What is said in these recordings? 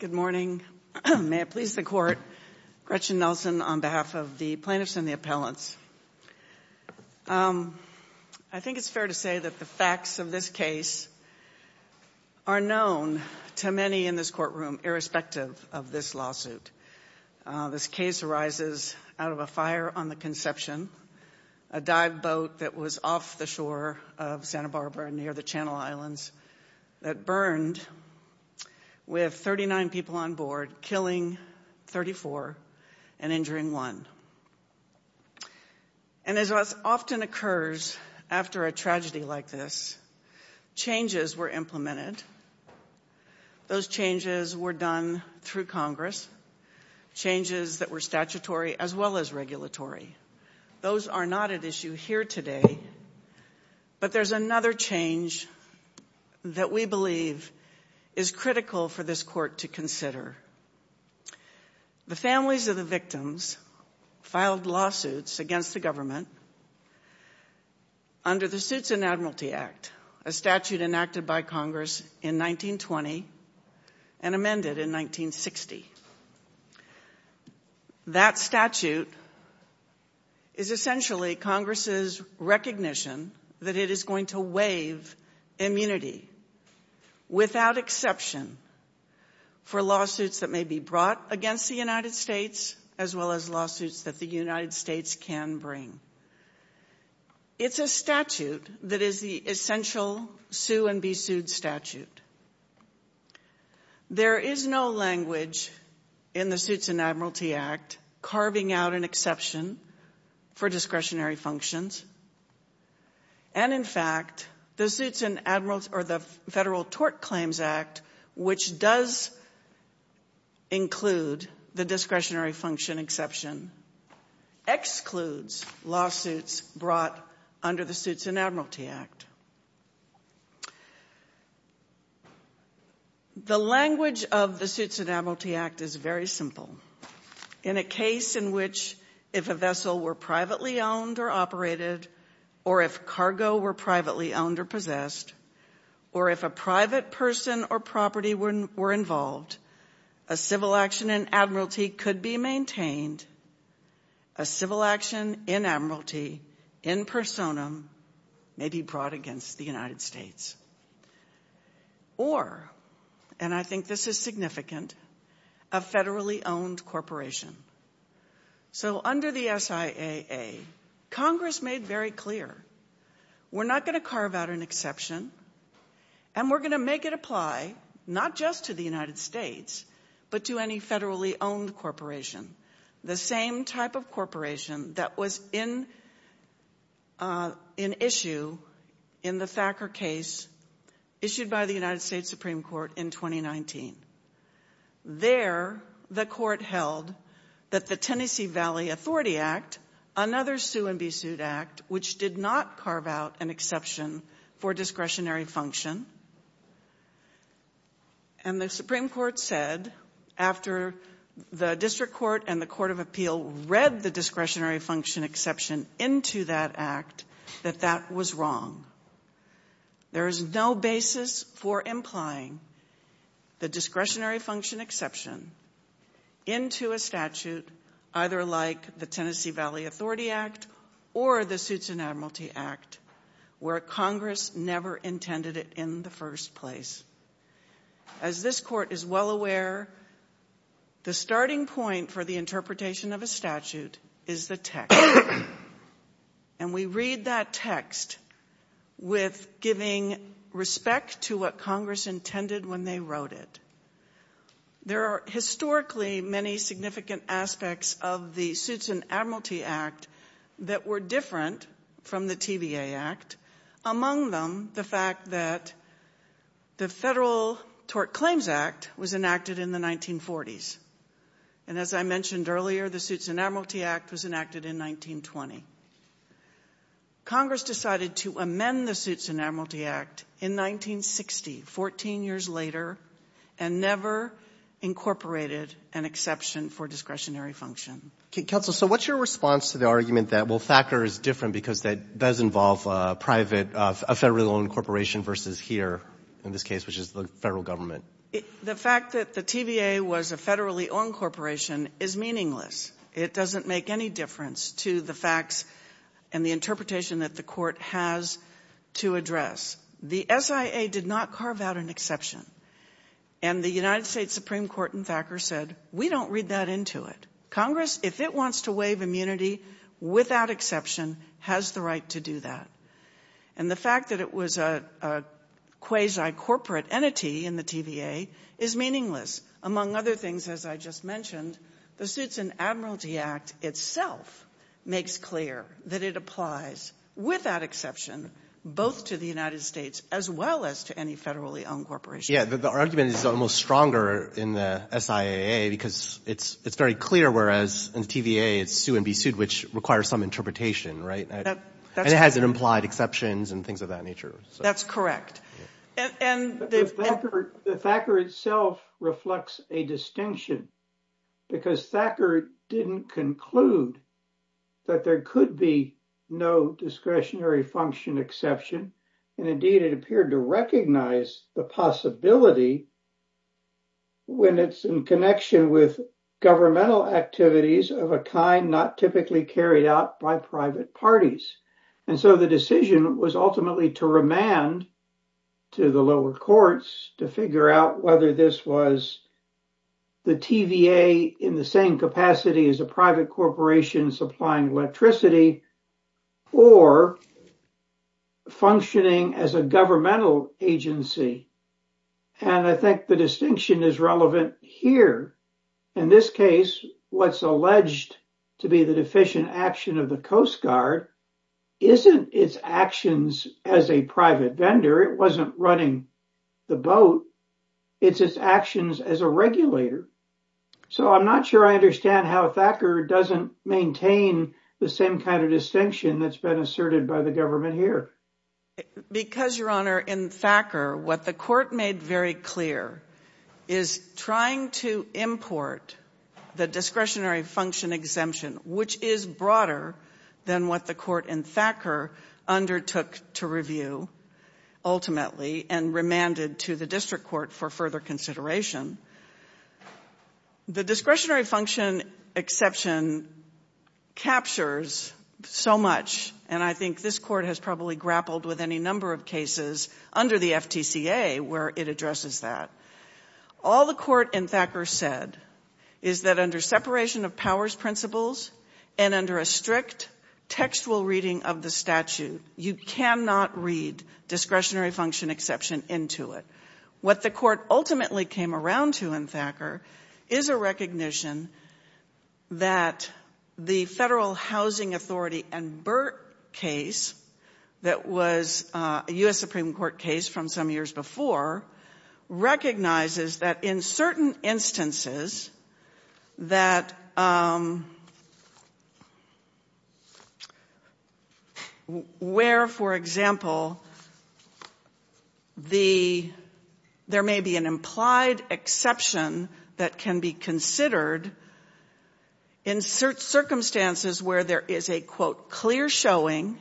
Good morning. May it please the court. Gretchen Nelson on behalf of the plaintiffs and the appellants. I think it's fair to say that the facts of this case are known to many in this courtroom irrespective of this lawsuit. This case arises out of a fire on the Conception, a dive boat that was off the shore of Santa Barbara near the Channel Islands that burned with 39 people on board, killing 34 and injuring one. And as often occurs after a tragedy like this, changes were implemented. Those changes were done through Congress. Changes that were statutory as well as regulatory. Those are not at issue here today. But there's another change that we believe is critical for this court to consider. The families of the victims filed lawsuits against the government under the Suits and Admiralty Act, a statute enacted by Congress in 1920 and amended in 1960. That statute is essentially Congress's recognition that it is going to waive immunity without exception for lawsuits that may be brought against the United States as well as lawsuits that the United States can bring. It's a statute that is the essential sue and be sued statute. There is no language in the Suits and Admiralty Act carving out an exception for discretionary functions. And in fact, the Federal Tort Claims Act, which does include the discretionary function exception, excludes lawsuits brought under the Suits and Admiralty Act. The language of the Suits and Admiralty Act is very simple. In a case in which if a vessel were privately owned or operated, or if cargo were privately owned or possessed, or if a private person or property were involved, a civil action in Admiralty could be maintained. A civil action in Admiralty, in personam, may be brought against the United States. Or, and I think this is significant, a federally owned corporation so under the SIAA, Congress made very clear, we're not going to carve out an exception and we're going to make it apply, not just to the United States, but to any federally owned corporation. The same type of corporation that was in issue in the Thacker case issued by the United States Supreme Court in 2019. There, the court held that the Tennessee Valley Authority Act, another sue and be sued act, which did not carve out an exception for discretionary function, and the Supreme Court said, after the District Court and the Court of Appeal read the discretionary function exception into that act, that that was wrong. There is no basis for implying the discretionary function exception into a statute, either like the Tennessee Valley Authority Act or the Suits in Admiralty Act, where Congress never intended it in the first place. As this court is well aware, the starting point for this case is to give respect to what Congress intended when they wrote it. There are historically many significant aspects of the Suits in Admiralty Act that were different from the TVA Act, among them, the fact that the federal tort claims act was enacted in the 1940s. And as Congress decided to amend the Suits in Admiralty Act in 1960, 14 years later, and never incorporated an exception for discretionary function. Okay, Counsel, so what's your response to the argument that, well, Thacker is different because that does involve a private, a federally owned corporation versus here, in this case, which is the federal government? The fact that the TVA was a federally owned corporation is meaningless. It doesn't make any difference to the facts and the interpretation that the court has to address. The SIA did not carve out an exception. And the United States Supreme Court in Thacker said, we don't read that into it. Congress, if it wants to waive immunity without exception, has the right to do that. And the fact that it was a quasi-corporate entity in the TVA is meaningless. Among other things, as I just mentioned, the Suits in Admiralty Act itself makes clear that it applies without exception, both to the United States as well as to any federally owned corporation. Yeah, the argument is almost stronger in the SIA because it's very clear, whereas in TVA, it's sue and be sued, which requires some interpretation, right? And it has implied exceptions and things of that nature. That's correct. The Thacker itself reflects a distinction because Thacker didn't conclude that there could be no discretionary function exception. And indeed, it appeared to recognize the possibility when it's in connection with governmental activities of a kind not typically carried out by private parties. And so the decision was ultimately to remand to the lower courts to figure out whether this was the TVA in the same capacity as a private corporation supplying electricity or functioning as a governmental agency. And I think the distinction is relevant here. In this case, what's alleged to be the deficient action of the Coast Guard isn't its actions as a private vendor. It wasn't running the boat. It's its actions as a regulator. So I'm not sure I understand how Thacker doesn't maintain the same kind of distinction that's been asserted by the government here. Because, Your Honor, in Thacker, what the court made very clear is trying to import the discretionary function exemption, which is broader than what the court in Thacker undertook to review, ultimately, and remanded to the district court for further consideration. The discretionary function exception captures so much, and I think this court has probably struggled with any number of cases under the FTCA where it addresses that. All the court in Thacker said is that under separation of powers principles and under a strict textual reading of the statute, you cannot read discretionary function exception into it. What the court ultimately came around to in Thacker is a recognition that the federal housing authority and Burt case that was a U.S. Supreme Court case from some years before recognizes that in certain instances that where, for example, there may be an implied exception that can be considered in certain circumstances where there is a, quote, clear showing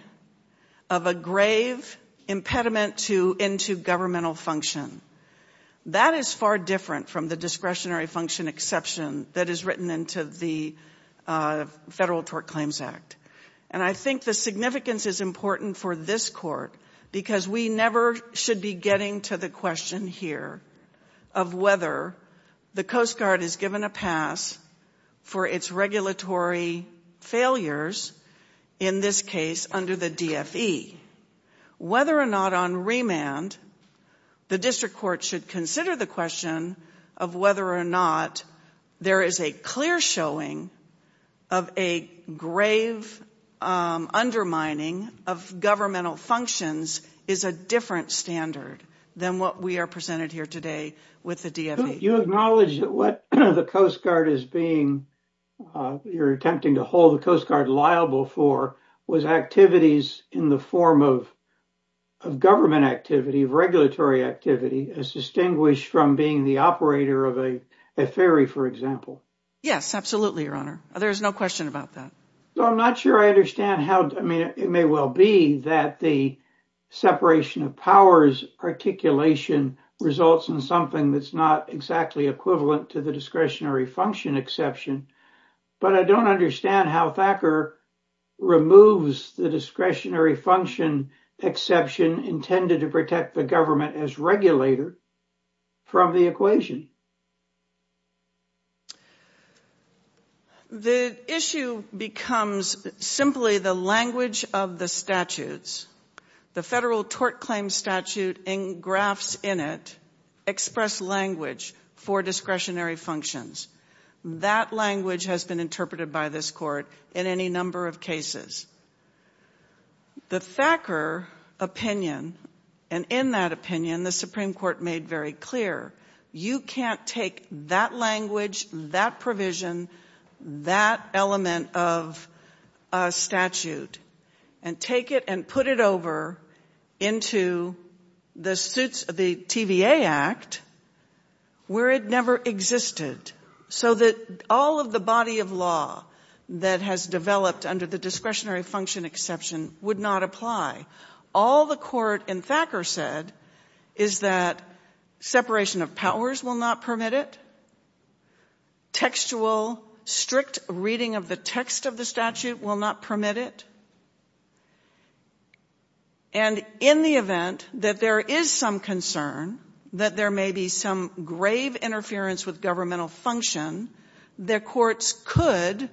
of a grave impediment into governmental function. That is far different from the discretionary function exception that is written into the Federal Tort Claims Act. And I think the significance is important for this court because we never should be getting to the question here of whether the Coast Guard is given a pass for its regulatory failures in this case under the DFE. Whether or not on remand the district court should consider the question of whether or not there is a clear showing of a grave undermining of governmental functions is a different standard than what we are presented here today with the DFE. You acknowledge that what the Coast Guard is being, you're attempting to hold the Coast Guard liable for, was activities in the form of government activity, of regulatory activity, as distinguished from being the operator of a ferry, for example. Yes, absolutely, Your Honor. There is no question about that. I'm not sure I understand how, I mean, it may well be that the separation of powers articulation results in something that's not exactly equivalent to the discretionary function exception, but I don't understand how Thacker removes the discretionary function exception intended to protect the government as regulator from the equation. The issue becomes simply the language of the statutes. The federal tort claim statute and graphs in it express language for discretionary functions. That language has been interpreted by this court in any number of cases. The Thacker opinion, and in that opinion, the Supreme Court made very clear, you can't take that language, that provision, that element of a statute, and take it and put it over into the suits of the TVA Act, where it never existed. So that all of the body of law that has developed under the discretionary function exception would not apply. All the court in Thacker said is that separation of powers will not permit it. Textual, strict reading of the text of the statute will not permit it. And in the event that there is some concern that there may be some grave interference with governmental function, their courts could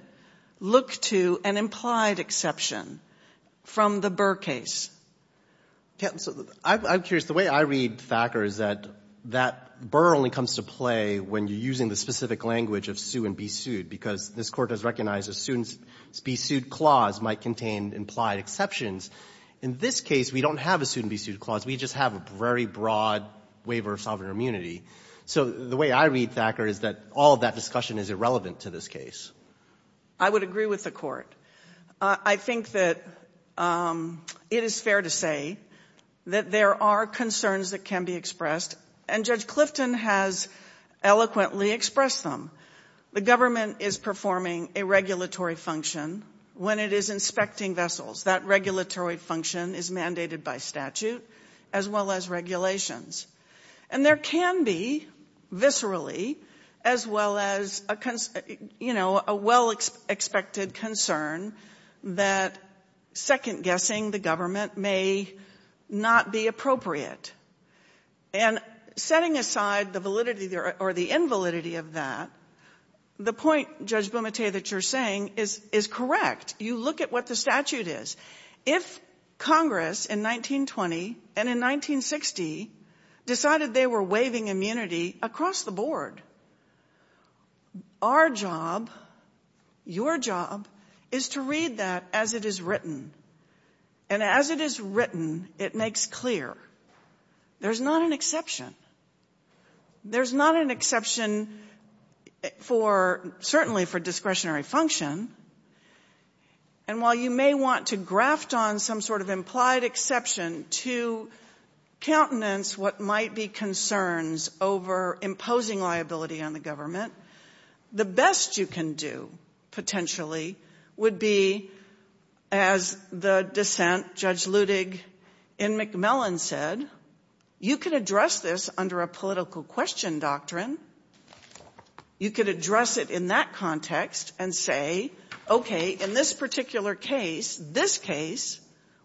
look to an implied exception from the Burr case. I'm curious, the way I read Thacker is that Burr only comes to play when you're using the specific language of sue and be sued, because this court has recognized a sued and be sued clause might contain implied exceptions. In this case, we don't have a sued and be sued clause, we just have a very broad waiver of sovereign immunity. So the way I read Thacker is that all of that discussion is irrelevant to this case. I would agree with the court. I think that it is fair to say that there are concerns that can be expressed, and Judge Clifton has eloquently expressed them. The government is performing a regulatory function when it is inspecting vessels, that regulatory function is mandated by statute, as well as regulations. And there can be, viscerally, as well as a well-expected concern that second-guessing the government may not be appropriate. And setting aside the validity or the invalidity of that, the point, Judge Bumate, that you're saying is correct. You look at what the statute is. If Congress in 1920 and in 1960 decided they were waiving immunity across the board, our job, your job, is to read that as it is written. And as it is written, it makes clear there's not an exception. There's not an exception, certainly, for discretionary function. And while you may want to graft on some sort of implied exception to countenance what might be concerns over imposing liability on the government, the best you can do, potentially, would be, as the dissent, Judge Ludig in McMillan said, you could address this under a political question doctrine. You could address it in that context and say, okay, in this particular case, this case,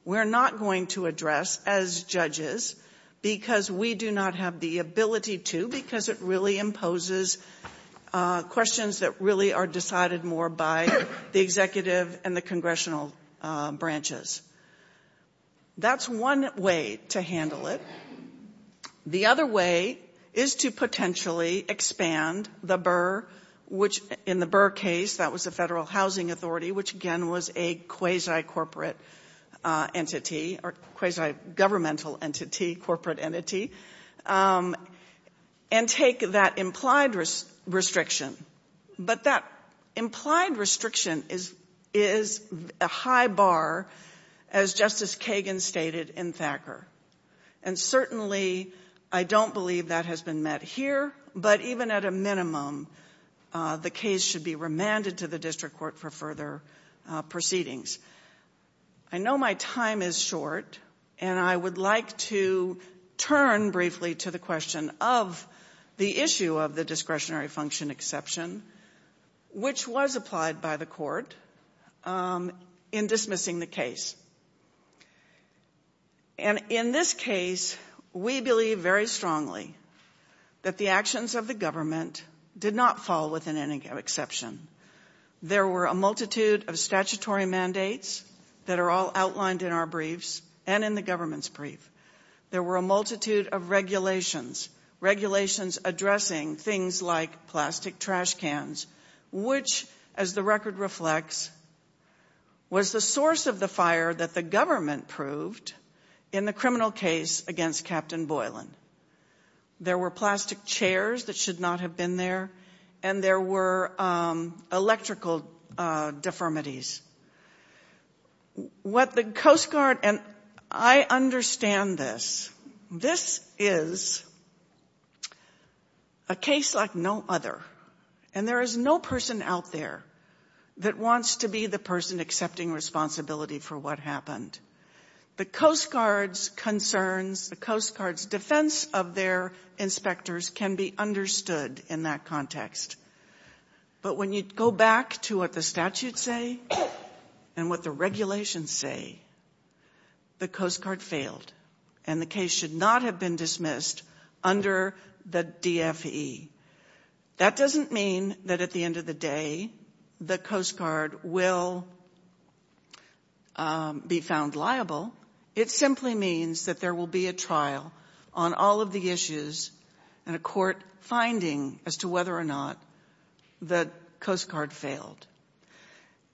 we're not going to address as judges because we do not have the ability to, because it really is a congressional branch. That's one way to handle it. The other way is to potentially expand the BRRR, which in the BRRR case, that was the Federal Housing Authority, which, again, was a quasi-corporate entity or quasi-governmental entity, corporate entity, and take that implied restriction. But that implied restriction is a high bar, as Justice Kagan stated in Thacker. And certainly, I don't believe that has been met here, but even at a minimum, the case should be remanded to the district court for further proceedings. I know my time is short, and I would like to turn briefly to the question of the issue of the discretionary function exception, which was applied by the court in dismissing the case. And in this case, we believe very strongly that the actions of the statutory mandates that are all outlined in our briefs and in the government's brief, there were a multitude of regulations, regulations addressing things like plastic trash cans, which, as the record reflects, was the source of the fire that the government proved in the criminal case against Captain Boylan. There were plastic chairs that should not have been there, and there were electrical deformities. What the Coast Guard, and I understand this, this is a case like no other, and there is no person out there that wants to be the person accepting responsibility for what happened. The Coast Guard's concerns, the Coast Guard's defense of their inspectors can be understood in that context. But when you go back to what the statutes say and what the regulations say, the Coast Guard failed, and the case should not have been dismissed under the DFE. That doesn't mean that at the end of the day, the Coast Guard will be found liable. It simply means that there will be a trial on all of the issues and a court finding as to whether or not the Coast Guard failed.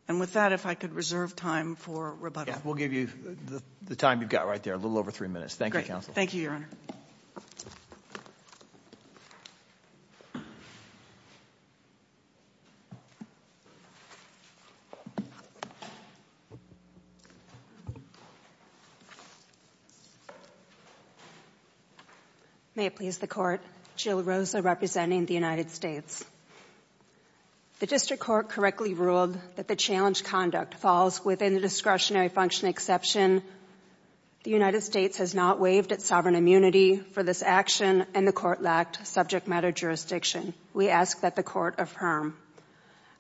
And with that, if I could reserve time for rebuttal. We'll give you the time you've got right there, a little over three minutes. Thank you, Counsel. Thank you, Your Honor. May it please the Court, Jill Rosa representing the United States. The District Court correctly ruled that the challenge conduct falls within the discretionary function exception. The United States has not waived its sovereign immunity for this action, and the Court lacked subject matter jurisdiction. We ask that the Court affirm.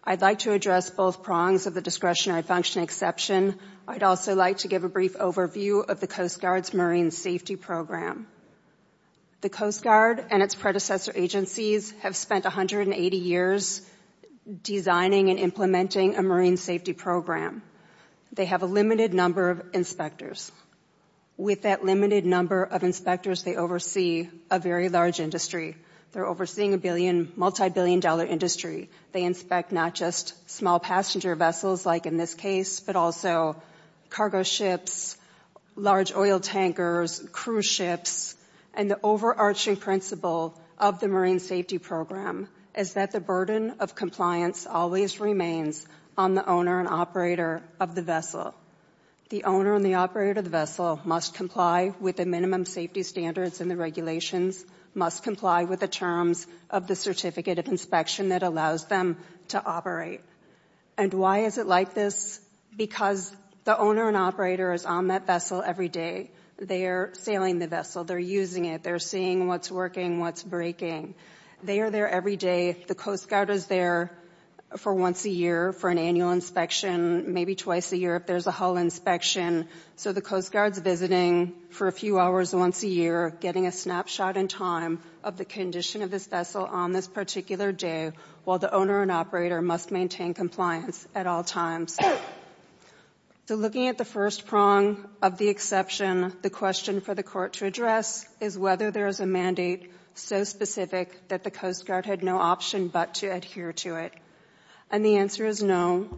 I'd like to address both prongs of the discretionary function exception. I'd also like to give a brief overview of the Coast Guard's marine safety program. The Coast Guard and its predecessor agencies have spent 180 years designing and implementing a marine safety program. They have a limited number of inspectors. With that limited number of inspectors, they oversee a very large industry. They're overseeing a multi-billion dollar industry. They inspect not just small passenger vessels like in this case, but also cargo ships, large oil tankers, cruise ships. And the overarching principle of the marine safety program is that the burden of compliance always remains on the owner and operator of the vessel. The owner and the operator of the vessel must comply with the minimum safety standards and the regulations, must comply with the terms of the certificate of inspection that allows them to operate. And why is it like this? Because the owner and operator is on that vessel every day. They're sailing the vessel. They're using it. They're seeing what's working, what's breaking. They are there every day. The Coast Guard is there for once a year for an annual inspection, maybe twice a year if there's a hull inspection. So the Coast Guard's visiting for a few hours once a year, getting a snapshot in time of the condition of this vessel on this particular day, while the owner and operator must maintain compliance at all times. So looking at the first prong of the exception, the question for the court to address is whether there is a mandate so specific that the Coast Guard had no option but to adhere to it. And the answer is no.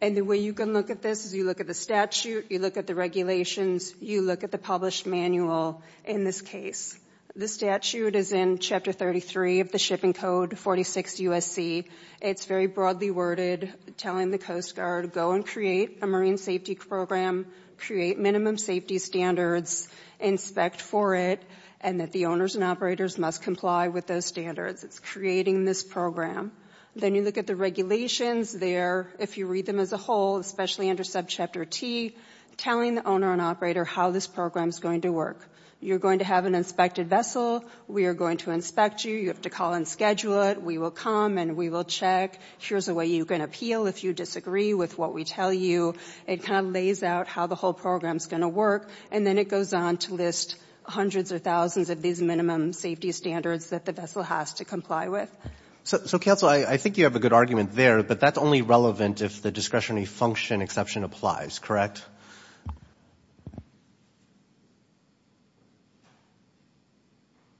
And the way you can look at this is you look at the statute, you look at the regulations, you look at the published manual in this case. The statute is in Chapter 33 of the Shipping Code, 46 USC. It's very broadly worded, telling the Coast Guard, go and create a marine safety program, create minimum safety standards, inspect for it, and that the owners and operators must comply with those standards. It's creating this program. Then you look at the regulations there, if you read them as a whole, especially under subchapter T, telling the owner and operator how this program's going to work. You're going to have an inspected vessel. We are going to inspect you. You have to call and schedule it. We will come and we will check. Here's a way you can appeal if you disagree with what we tell you. It kind of of these minimum safety standards that the vessel has to comply with. So Counsel, I think you have a good argument there, but that's only relevant if the discretionary function exception applies, correct?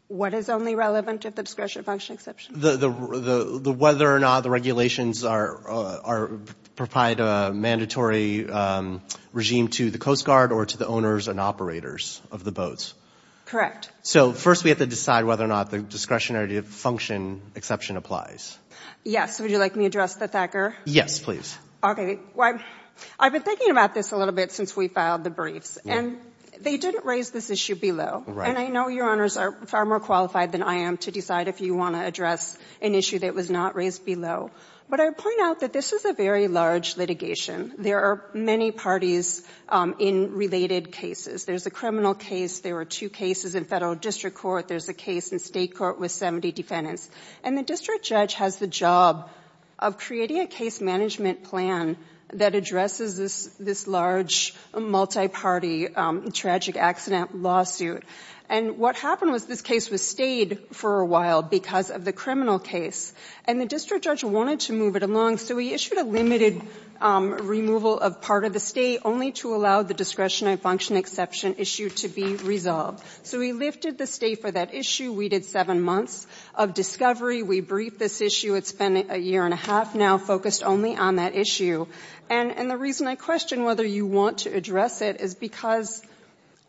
What is only relevant if the discretionary function exception? The whether or not the regulations provide a mandatory regime to the Coast Guard or to the owners and operators of the boats. Correct. So first we have to decide whether or not the discretionary function exception applies. Yes. Would you like me to address the thacker? Yes, please. Okay. Well, I've been thinking about this a little bit since we filed the briefs, and they didn't raise this issue below. And I know your owners are far more qualified than I am to decide if you want to address an issue that was not raised below. But I point out that this is a very large litigation. There are many parties in related cases. There's a criminal case. There were two cases in federal district court. There's a case in state court with 70 defendants. And the district judge has the job of creating a case management plan that addresses this large multi-party tragic accident lawsuit. And what happened was this case was stayed for a while because of the criminal case. And the district judge wanted to move it along, so he issued a limited removal of part of the stay only to allow the discretionary function exception issue to be resolved. So he lifted the stay for that issue. We did seven months of discovery. We briefed this issue. It's been a year and a half now focused only on that issue. And the reason I question whether you want to address it is because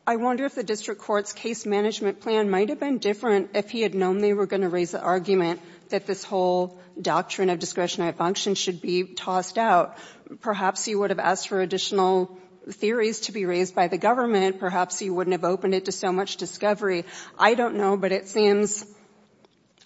I wonder if the district court's case management plan might have been different if he had known they were going to raise the argument that this whole doctrine of discretionary function should be tossed out. Perhaps he would have asked for additional theories to be raised by the government. Perhaps he wouldn't have opened it to so much discovery. I don't know, but it seems,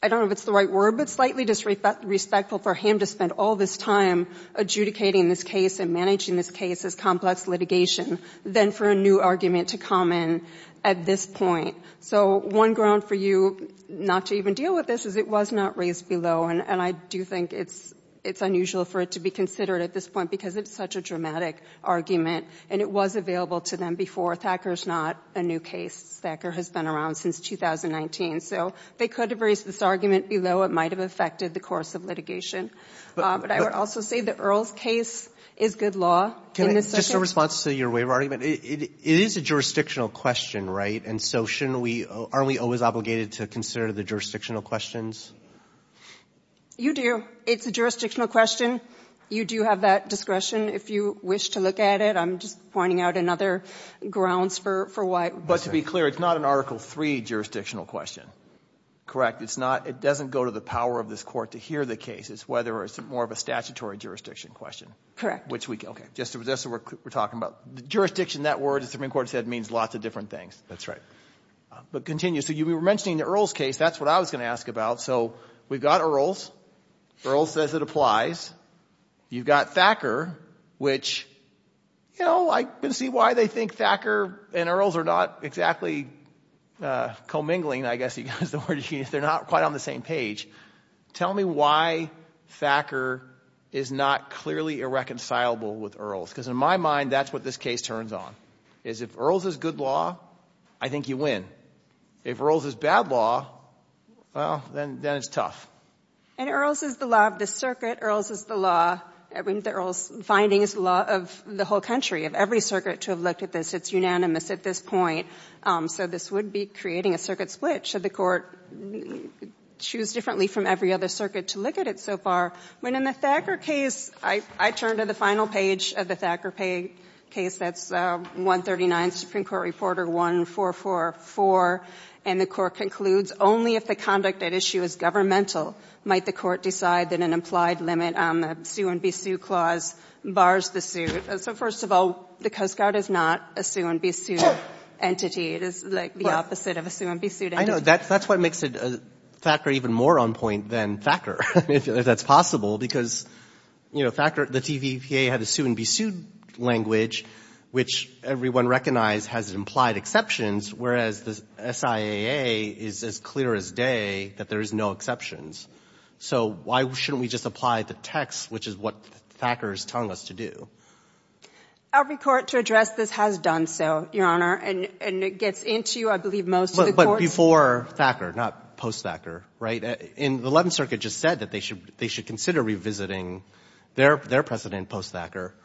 I don't know if it's the right word, but slightly disrespectful for him to spend all this time adjudicating this case and managing this case as complex litigation than for a new argument to come in at this point. So one ground for you not to even deal with this is it was not raised below. And I do think it's unusual for it to be considered at this point because it's such a dramatic argument and it was available to them before. Thacker is not a new case. Thacker has been around since 2019. So they could have raised this argument below. It might have affected the course of litigation. But I would also say that Earl's case is good law. Can I just a response to your waiver argument? It is a jurisdictional question, right? And so shouldn't we, aren't we always obligated to consider the jurisdictional questions? You do. It's a jurisdictional question. You do have that discretion if you wish to look at it. I'm just pointing out another grounds for why. But to be clear, it's not an Article III jurisdictional question, correct? It's not, it doesn't go to the power of this Court to hear the case. It's whether it's more of a statutory jurisdiction question. Correct. Which we, okay, just so we're talking about the jurisdiction, that word the Supreme Court said means lots of different things. That's right. But continue. So you were mentioning the Earl's case. That's what I was going to ask about. So we've got Earl's. Earl's says it applies. You've got Thacker, which, you know, I can see why they think Thacker and Earl's are not exactly commingling, I guess is the word you use. They're not quite on the same page. Tell me why Thacker is not clearly irreconcilable with Earl's. Because in my mind, that's what this case turns on, is if Earl's is good law, I think you win. If Earl's is bad law, well, then it's tough. And Earl's is the law of the circuit. Earl's is the law, I mean, the Earl's finding is the law of the whole country, of every circuit to have looked at this. It's unanimous at this point. So this would be creating a circuit split. Should the circuit look at it so far. In the Thacker case, I turn to the final page of the Thacker case, that's 139 Supreme Court Reporter 1444, and the court concludes only if the conduct at issue is governmental might the court decide that an implied limit on the sue and be sued clause bars the suit. So first of all, the Coast Guard is not a sue and be sued entity. It is the opposite of a Thacker, if that's possible, because the TVPA had a sue and be sued language, which everyone recognized has implied exceptions, whereas the SIAA is as clear as day that there is no exceptions. So why shouldn't we just apply the text, which is what Thacker is telling us to do? Every court to address this has done so, Your Honor, and it gets into, I believe, most of the 11th Circuit just said that they should consider revisiting their precedent post-Thacker.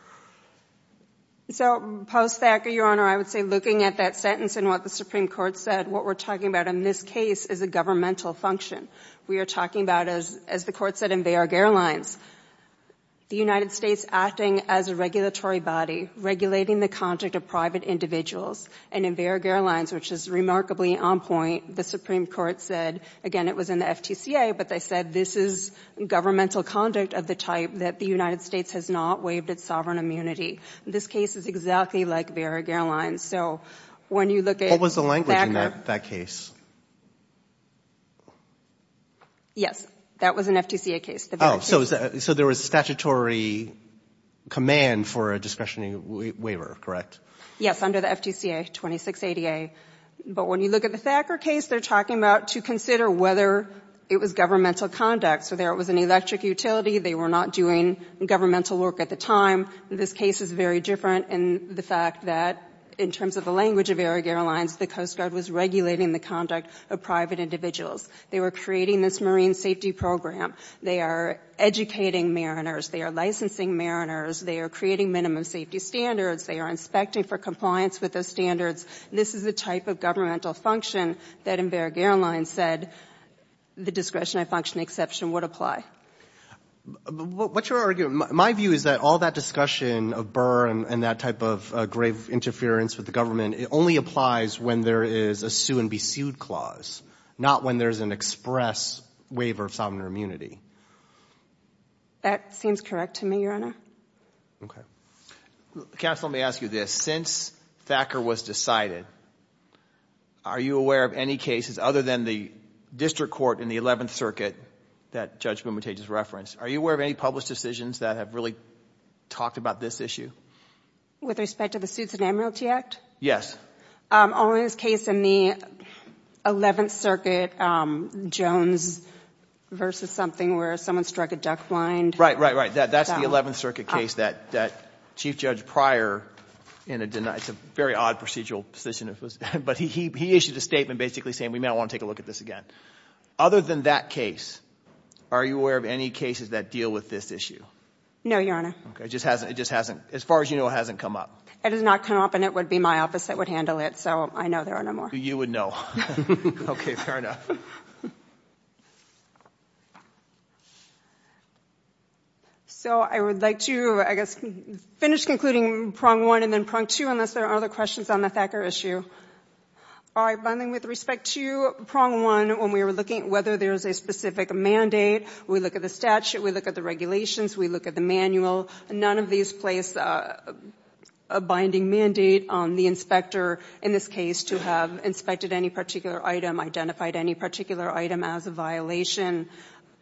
So post-Thacker, Your Honor, I would say looking at that sentence and what the Supreme Court said, what we're talking about in this case is a governmental function. We are talking about, as the court said, in Varag Airlines, the United States acting as a regulatory body, regulating the conduct of private individuals, and in Varag Airlines, which is remarkably on point, the Supreme Court said, again, it was in the FTCA, but they said this is governmental conduct of the type that the United States has not waived its sovereign immunity. This case is exactly like Varag Airlines. So when you look at Thacker— What was the language in that case? Yes, that was an FTCA case. Oh, so there was statutory command for a discretionary waiver, correct? Yes, under the FTCA, 26 ADA. But when you look at the Thacker case, they're talking about to consider whether it was governmental conduct. So there was an electric utility. They were not doing governmental work at the time. This case is very different in the fact that, in terms of the language of Varag Airlines, the Coast Guard was regulating the conduct of private individuals. They were creating this marine safety program. They are educating mariners. They are licensing standards. They are inspecting for compliance with those standards. This is the type of governmental function that, in Varag Airlines, said the discretionary function exception would apply. What you're arguing—my view is that all that discussion of Burr and that type of grave interference with the government, it only applies when there is a sue-and-be-sued clause, not when there's an express waiver of sovereign immunity. That seems correct to me, Your Honor. Okay. Counsel, let me ask you this. Since Thacker was decided, are you aware of any cases, other than the district court in the 11th Circuit that Judge Bumutate just referenced, are you aware of any published decisions that have really talked about this issue? With respect to the Suits and Amnualty Act? Yes. Only this case in the 11th Circuit, Jones versus something where someone struck a duck blind. Right, right, right. That's the 11th Circuit case that Chief Judge Pryor—it's a very odd procedural position—but he issued a statement basically saying, we may not want to take a look at this again. Other than that case, are you aware of any cases that deal with this issue? No, Your Honor. Okay. It just hasn't—as far as you know, it hasn't come up. It has not come up, and it would be my office that would handle it, so I know there are no more. You would know. Okay, fair enough. So I would like to, I guess, finish concluding Prong 1 and then Prong 2, unless there are other questions on the Thacker issue. All right, binding with respect to Prong 1, when we were looking at whether there's a specific mandate, we look at the statute, we look at the regulations, we look at the manual, none of these place a binding mandate on the inspector in this case to have inspected any particular item, identified any particular item as a violation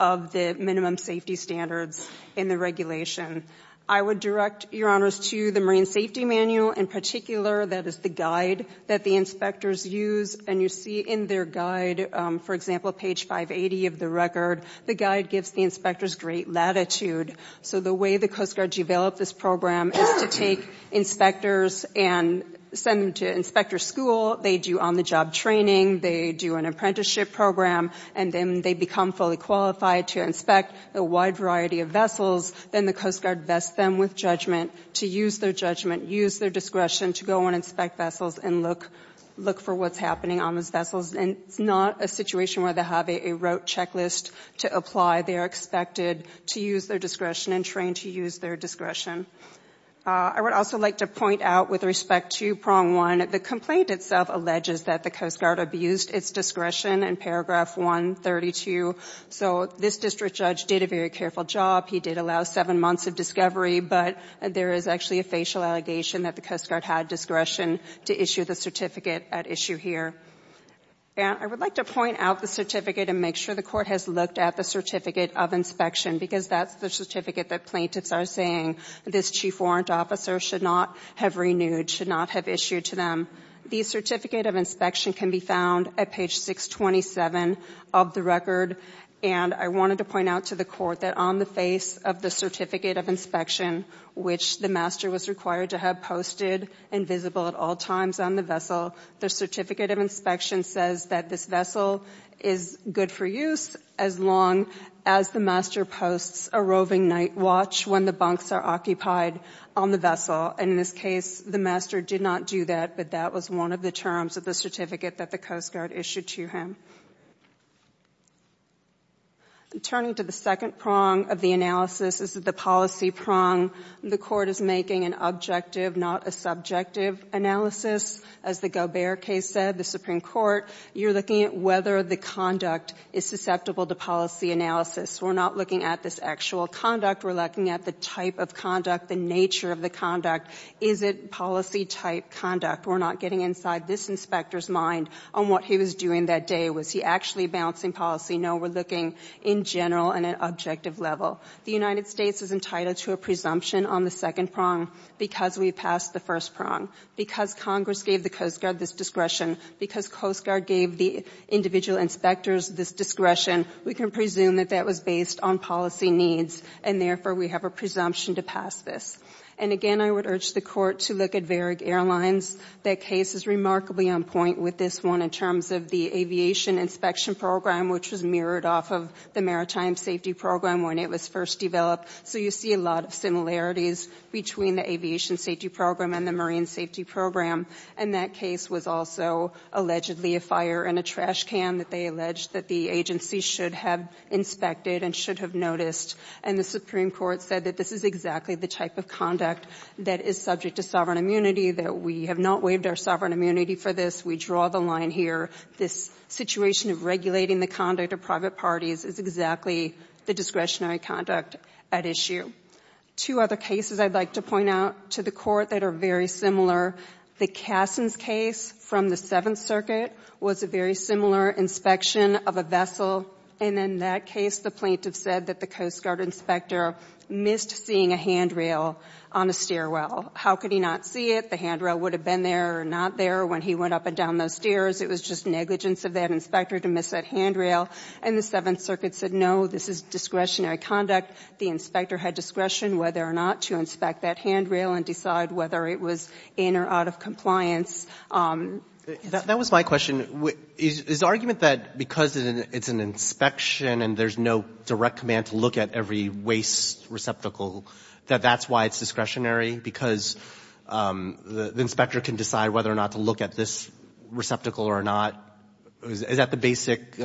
of the minimum safety standards in the regulation. I would direct, Your Honors, to the Marine Safety Manual in particular, that is the guide that the inspectors use, and you see in their guide, for example, page 580 of the record, the guide gives the inspectors great latitude. So the way the Coast Guard developed this program is to take inspectors and send them to inspector school, they do on-the-job training, they do an apprenticeship program, and then they become fully qualified to inspect a wide variety of vessels. Then the Coast Guard vests them with judgment to use their judgment, use their discretion to go and inspect vessels and look for what's happening on those vessels. And it's not a situation where they have a rote checklist to apply. They are expected to use their discretion and train to use their discretion. I would also like to point out with respect to Prong 1, the complaint itself alleges that the Coast Guard abused its discretion in paragraph 132. So this district judge did a very careful job. He did allow seven months of discovery, but there is actually a facial allegation that the Coast Guard had discretion to issue the certificate at issue here. And I would like to point out the certificate and make sure the Court has looked at the Certificate of Inspection because that's the certificate that plaintiffs are saying this Chief Warrant Officer should not have renewed, should not have issued to them. The Certificate of Inspection can be found at page 627 of the record. And I wanted to point out to the Court that on the face of the Certificate of Inspection, which the master was required to have posted and visible at all times on the vessel, the Certificate of Inspection says that this vessel is good for use as long as the master posts a roving night watch when the bunks are occupied on the vessel. In this case, the master did not do that, but that was one of the terms of the certificate that the Coast Guard issued to him. Turning to the second prong of the analysis is the policy prong. The Court is making an objective, not a subjective analysis. As the Gobert case said, the Supreme Court, you're looking at whether the conduct is susceptible to policy analysis. We're not looking at this actual conduct. We're looking at the type of conduct, the nature of the conduct. Is it policy-type conduct? We're not getting inside this inspector's mind on what he was doing that day. Was he actually balancing policy? No, we're looking in general and at an objective level. The United States is entitled to a presumption on the second prong because we passed the first prong. Because Congress gave the Coast Guard this discretion, because Coast Guard gave the individual inspectors this discretion, we can presume that that was based on policy needs, and therefore, we have a presumption to pass this. And again, I would urge the Court to look at Varig Airlines. That case is remarkably on point with this one in terms of the aviation inspection program, which was mirrored off of the maritime safety program when it was first developed. So you see a lot of similarities between the aviation safety program and the marine safety program. And that case was also allegedly a fire in a trash can that they alleged that the agency should have inspected and should have noticed. And the Supreme Court said that this is exactly the type of conduct that is subject to sovereign immunity, that we have not waived our sovereign immunity for this. We draw the line here. This situation of regulating the conduct of private parties is exactly the discretionary conduct at issue. Two other cases I'd like to point out to the Court that are very similar. The Cassin's case from the Seventh Circuit was a very similar inspection of a vessel. And in that case, the plaintiff said that the Coast Guard inspector missed seeing a handrail on a stairwell. How could he not see it? The handrail would have been there or not there when he went up and down those stairs. It was just negligence of that inspector to miss that handrail. And the Seventh Circuit said, no, this is discretionary conduct. The inspector had discretion whether or not to inspect that handrail and decide whether it was in or out of compliance. That was my question. Is the argument that because it's an inspection and there's no direct command to look at every waste receptacle, that that's why it's discretionary? Because the inspector can decide whether or not to look at this receptacle or not? Is that the basic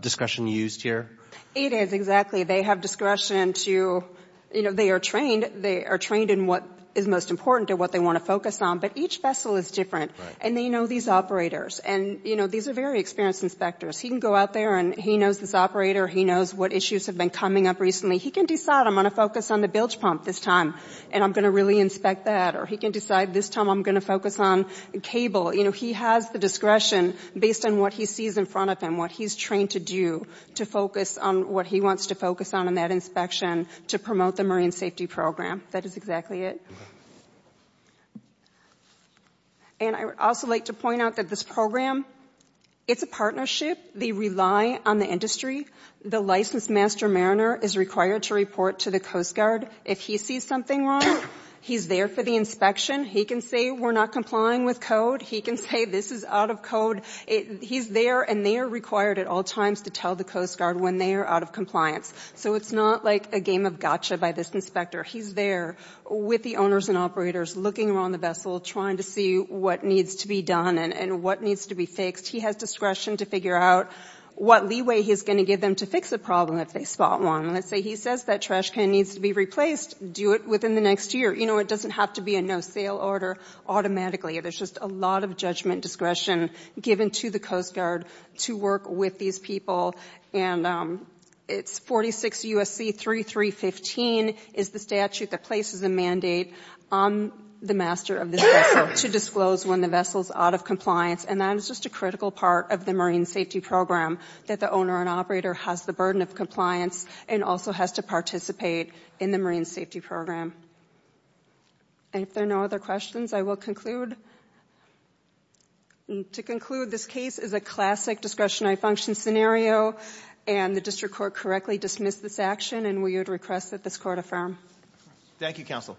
discretion used here? It is, exactly. They have discretion to, you know, they are trained. They are trained in what is most important and what they want to focus on. But each vessel is different. And they know these operators. And, you know, these are very experienced inspectors. He can go out there and he knows this operator. He knows what issues have been coming up recently. He can decide, I'm going to focus on the bilge pump this time and I'm going to really inspect that. Or he can decide this time I'm going to focus on cable. You know, he has the discretion based on what he sees in front of him, what he's trained to do to focus on what he wants to focus on in that inspection to promote the marine safety program. That is exactly it. And I would also like to point out that this program, it's a partnership. They rely on the industry. The licensed master mariner is required to report to the Coast Guard. If he sees something wrong, he's there for the inspection. He can say we're not complying with code. He can say this is out of code. He's there and they are required at all times to tell the Coast Guard when they are out of compliance. So it's not like a game of gotcha by this inspector. He's there with the operators looking around the vessel, trying to see what needs to be done and what needs to be fixed. He has discretion to figure out what leeway he's going to give them to fix a problem if they spot one. Let's say he says that trash can needs to be replaced, do it within the next year. You know, it doesn't have to be a no-sale order automatically. There's just a lot of judgment discretion given to the Coast Guard to work with these people. And it's 46 U.S.C. 3315 is the statute that places a mandate on the master of this vessel to disclose when the vessel is out of compliance. And that is just a critical part of the marine safety program, that the owner and operator has the burden of compliance and also has to participate in the marine safety program. And if there are no other questions, I will conclude. To conclude, this case is a classic discretionary function scenario and the district court correctly dismissed this action. And we would request that this court affirm. Thank you, counsel.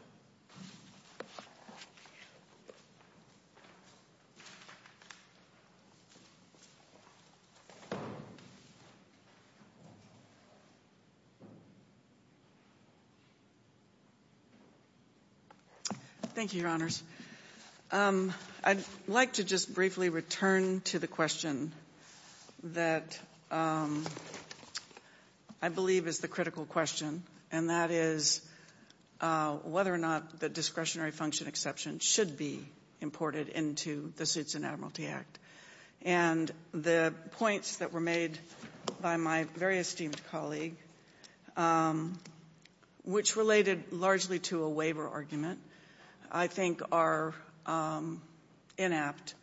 Thank you, your honors. I'd like to just briefly return to the question that I believe is the critical question, and that is whether or not the discretionary function exception should be imported into the Suits and Admiralty Act. And the points that were made by my very esteemed colleague, which related largely to a waiver argument, I think are inept.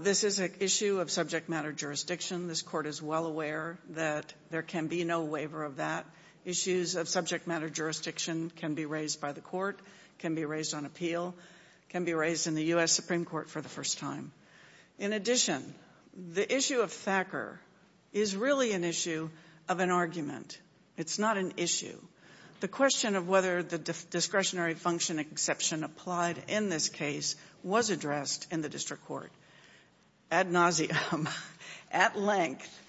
This is an issue of subject matter jurisdiction. This court is well aware that there can be no waiver of that. Issues of subject matter jurisdiction can be raised by the court, can be raised on appeal, can be raised in the U.S. Supreme Court for the first time. In addition, the issue of Thacker is really an issue of an argument. It's not an issue. The question of whether the discretionary function exception applied in this case was addressed in the district court ad nauseum, at length.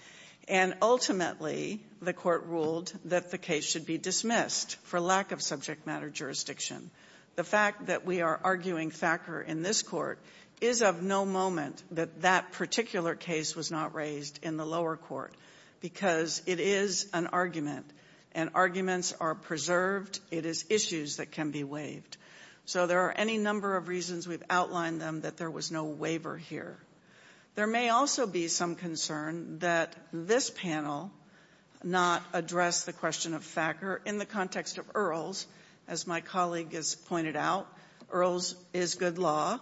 And ultimately, the court ruled that the case should be dismissed for lack of subject matter jurisdiction. The fact that we are arguing Thacker in this court is of no moment that that particular case was not raised in the lower court because it is an argument and arguments are preserved. It is issues that can be waived. So there are any number of reasons we've outlined them that there was no waiver here. There may also be some concern that this panel not address the question of Thacker in the context of Earls. As my colleague has pointed out, Earls is good law.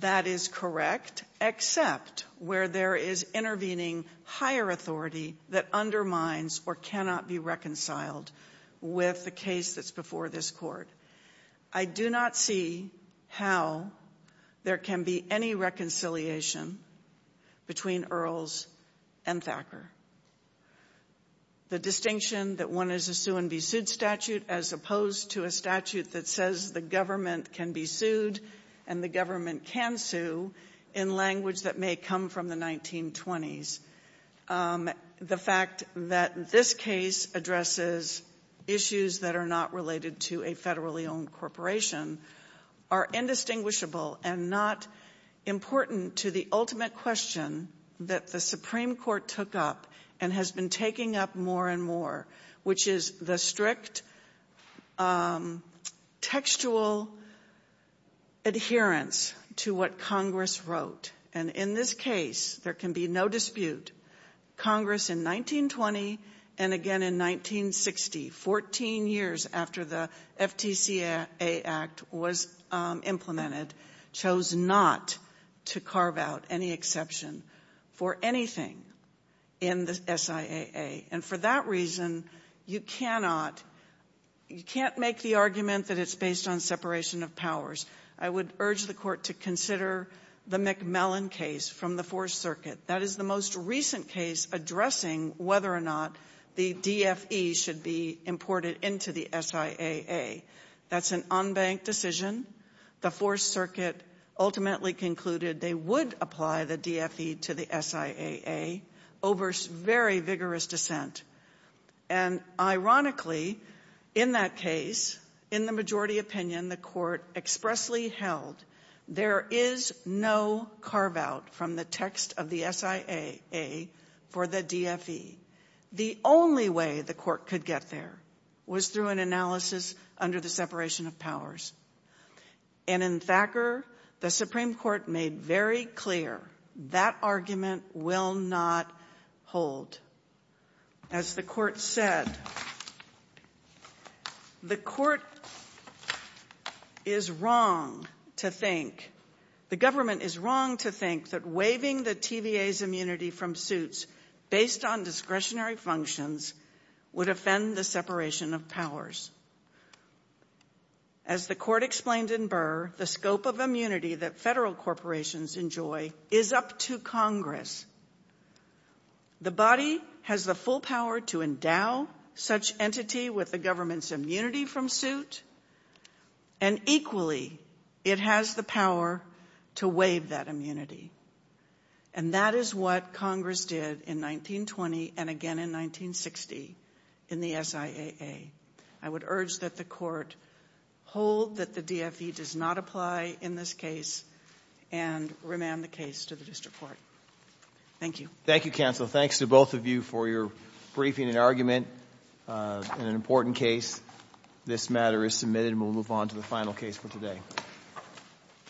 That is correct, except where there is intervening higher authority that undermines or cannot be reconciled with the case that's before this court. I do not see how there can be any reconciliation between Earls and Thacker. The distinction that one is a sue and be sued statute as opposed to a statute that says the government can be sued and the government can sue in language that may come from the 1920s. The fact that this case addresses issues that are not related to a federally owned corporation are indistinguishable and not important to the ultimate question that the Supreme Court took up and has been taking up more and more, which is the strict textual adherence to what Congress wrote. In this case, there can be no dispute. Congress in 1920 and again in 1960, 14 years after the FTCA Act was implemented, chose not to carve out any exception for anything in the SIAA. For that reason, you can't make the argument that it's based on separation of powers. I would urge the court to consider the McMillan case from the Fourth Circuit. That is the most recent case addressing whether or not the DFE should be imported into the SIAA. That's an unbanked decision. The Fourth Circuit ultimately concluded they would apply the DFE to the SIAA over very vigorous dissent. And ironically, in that case, in the majority opinion, the court expressly held there is no carve out from the text of the SIAA for the DFE. The only way the court could get there was through an analysis under the separation of powers. And in Thacker, the Supreme Court made very clear that argument will not hold. As the court said, the court is wrong to think, the government is wrong to think that waiving the TVA's immunity from suits based on discretionary functions would offend the separation of powers. As the court explained in Burr, the scope of immunity that federal corporations enjoy is up to Congress. The body has the full power to endow such entity with the government's immunity from suit, and equally, it has the power to waive that immunity. And that is what Congress did in 1920 and again in 1960 in the SIAA. I would urge that the court hold that the DFE does not apply in this case and remand the case to the district court. Thank you. Thank you, counsel. Thanks to both of you for your briefing and argument in an important case. This matter is submitted and we'll move on to the final case for today.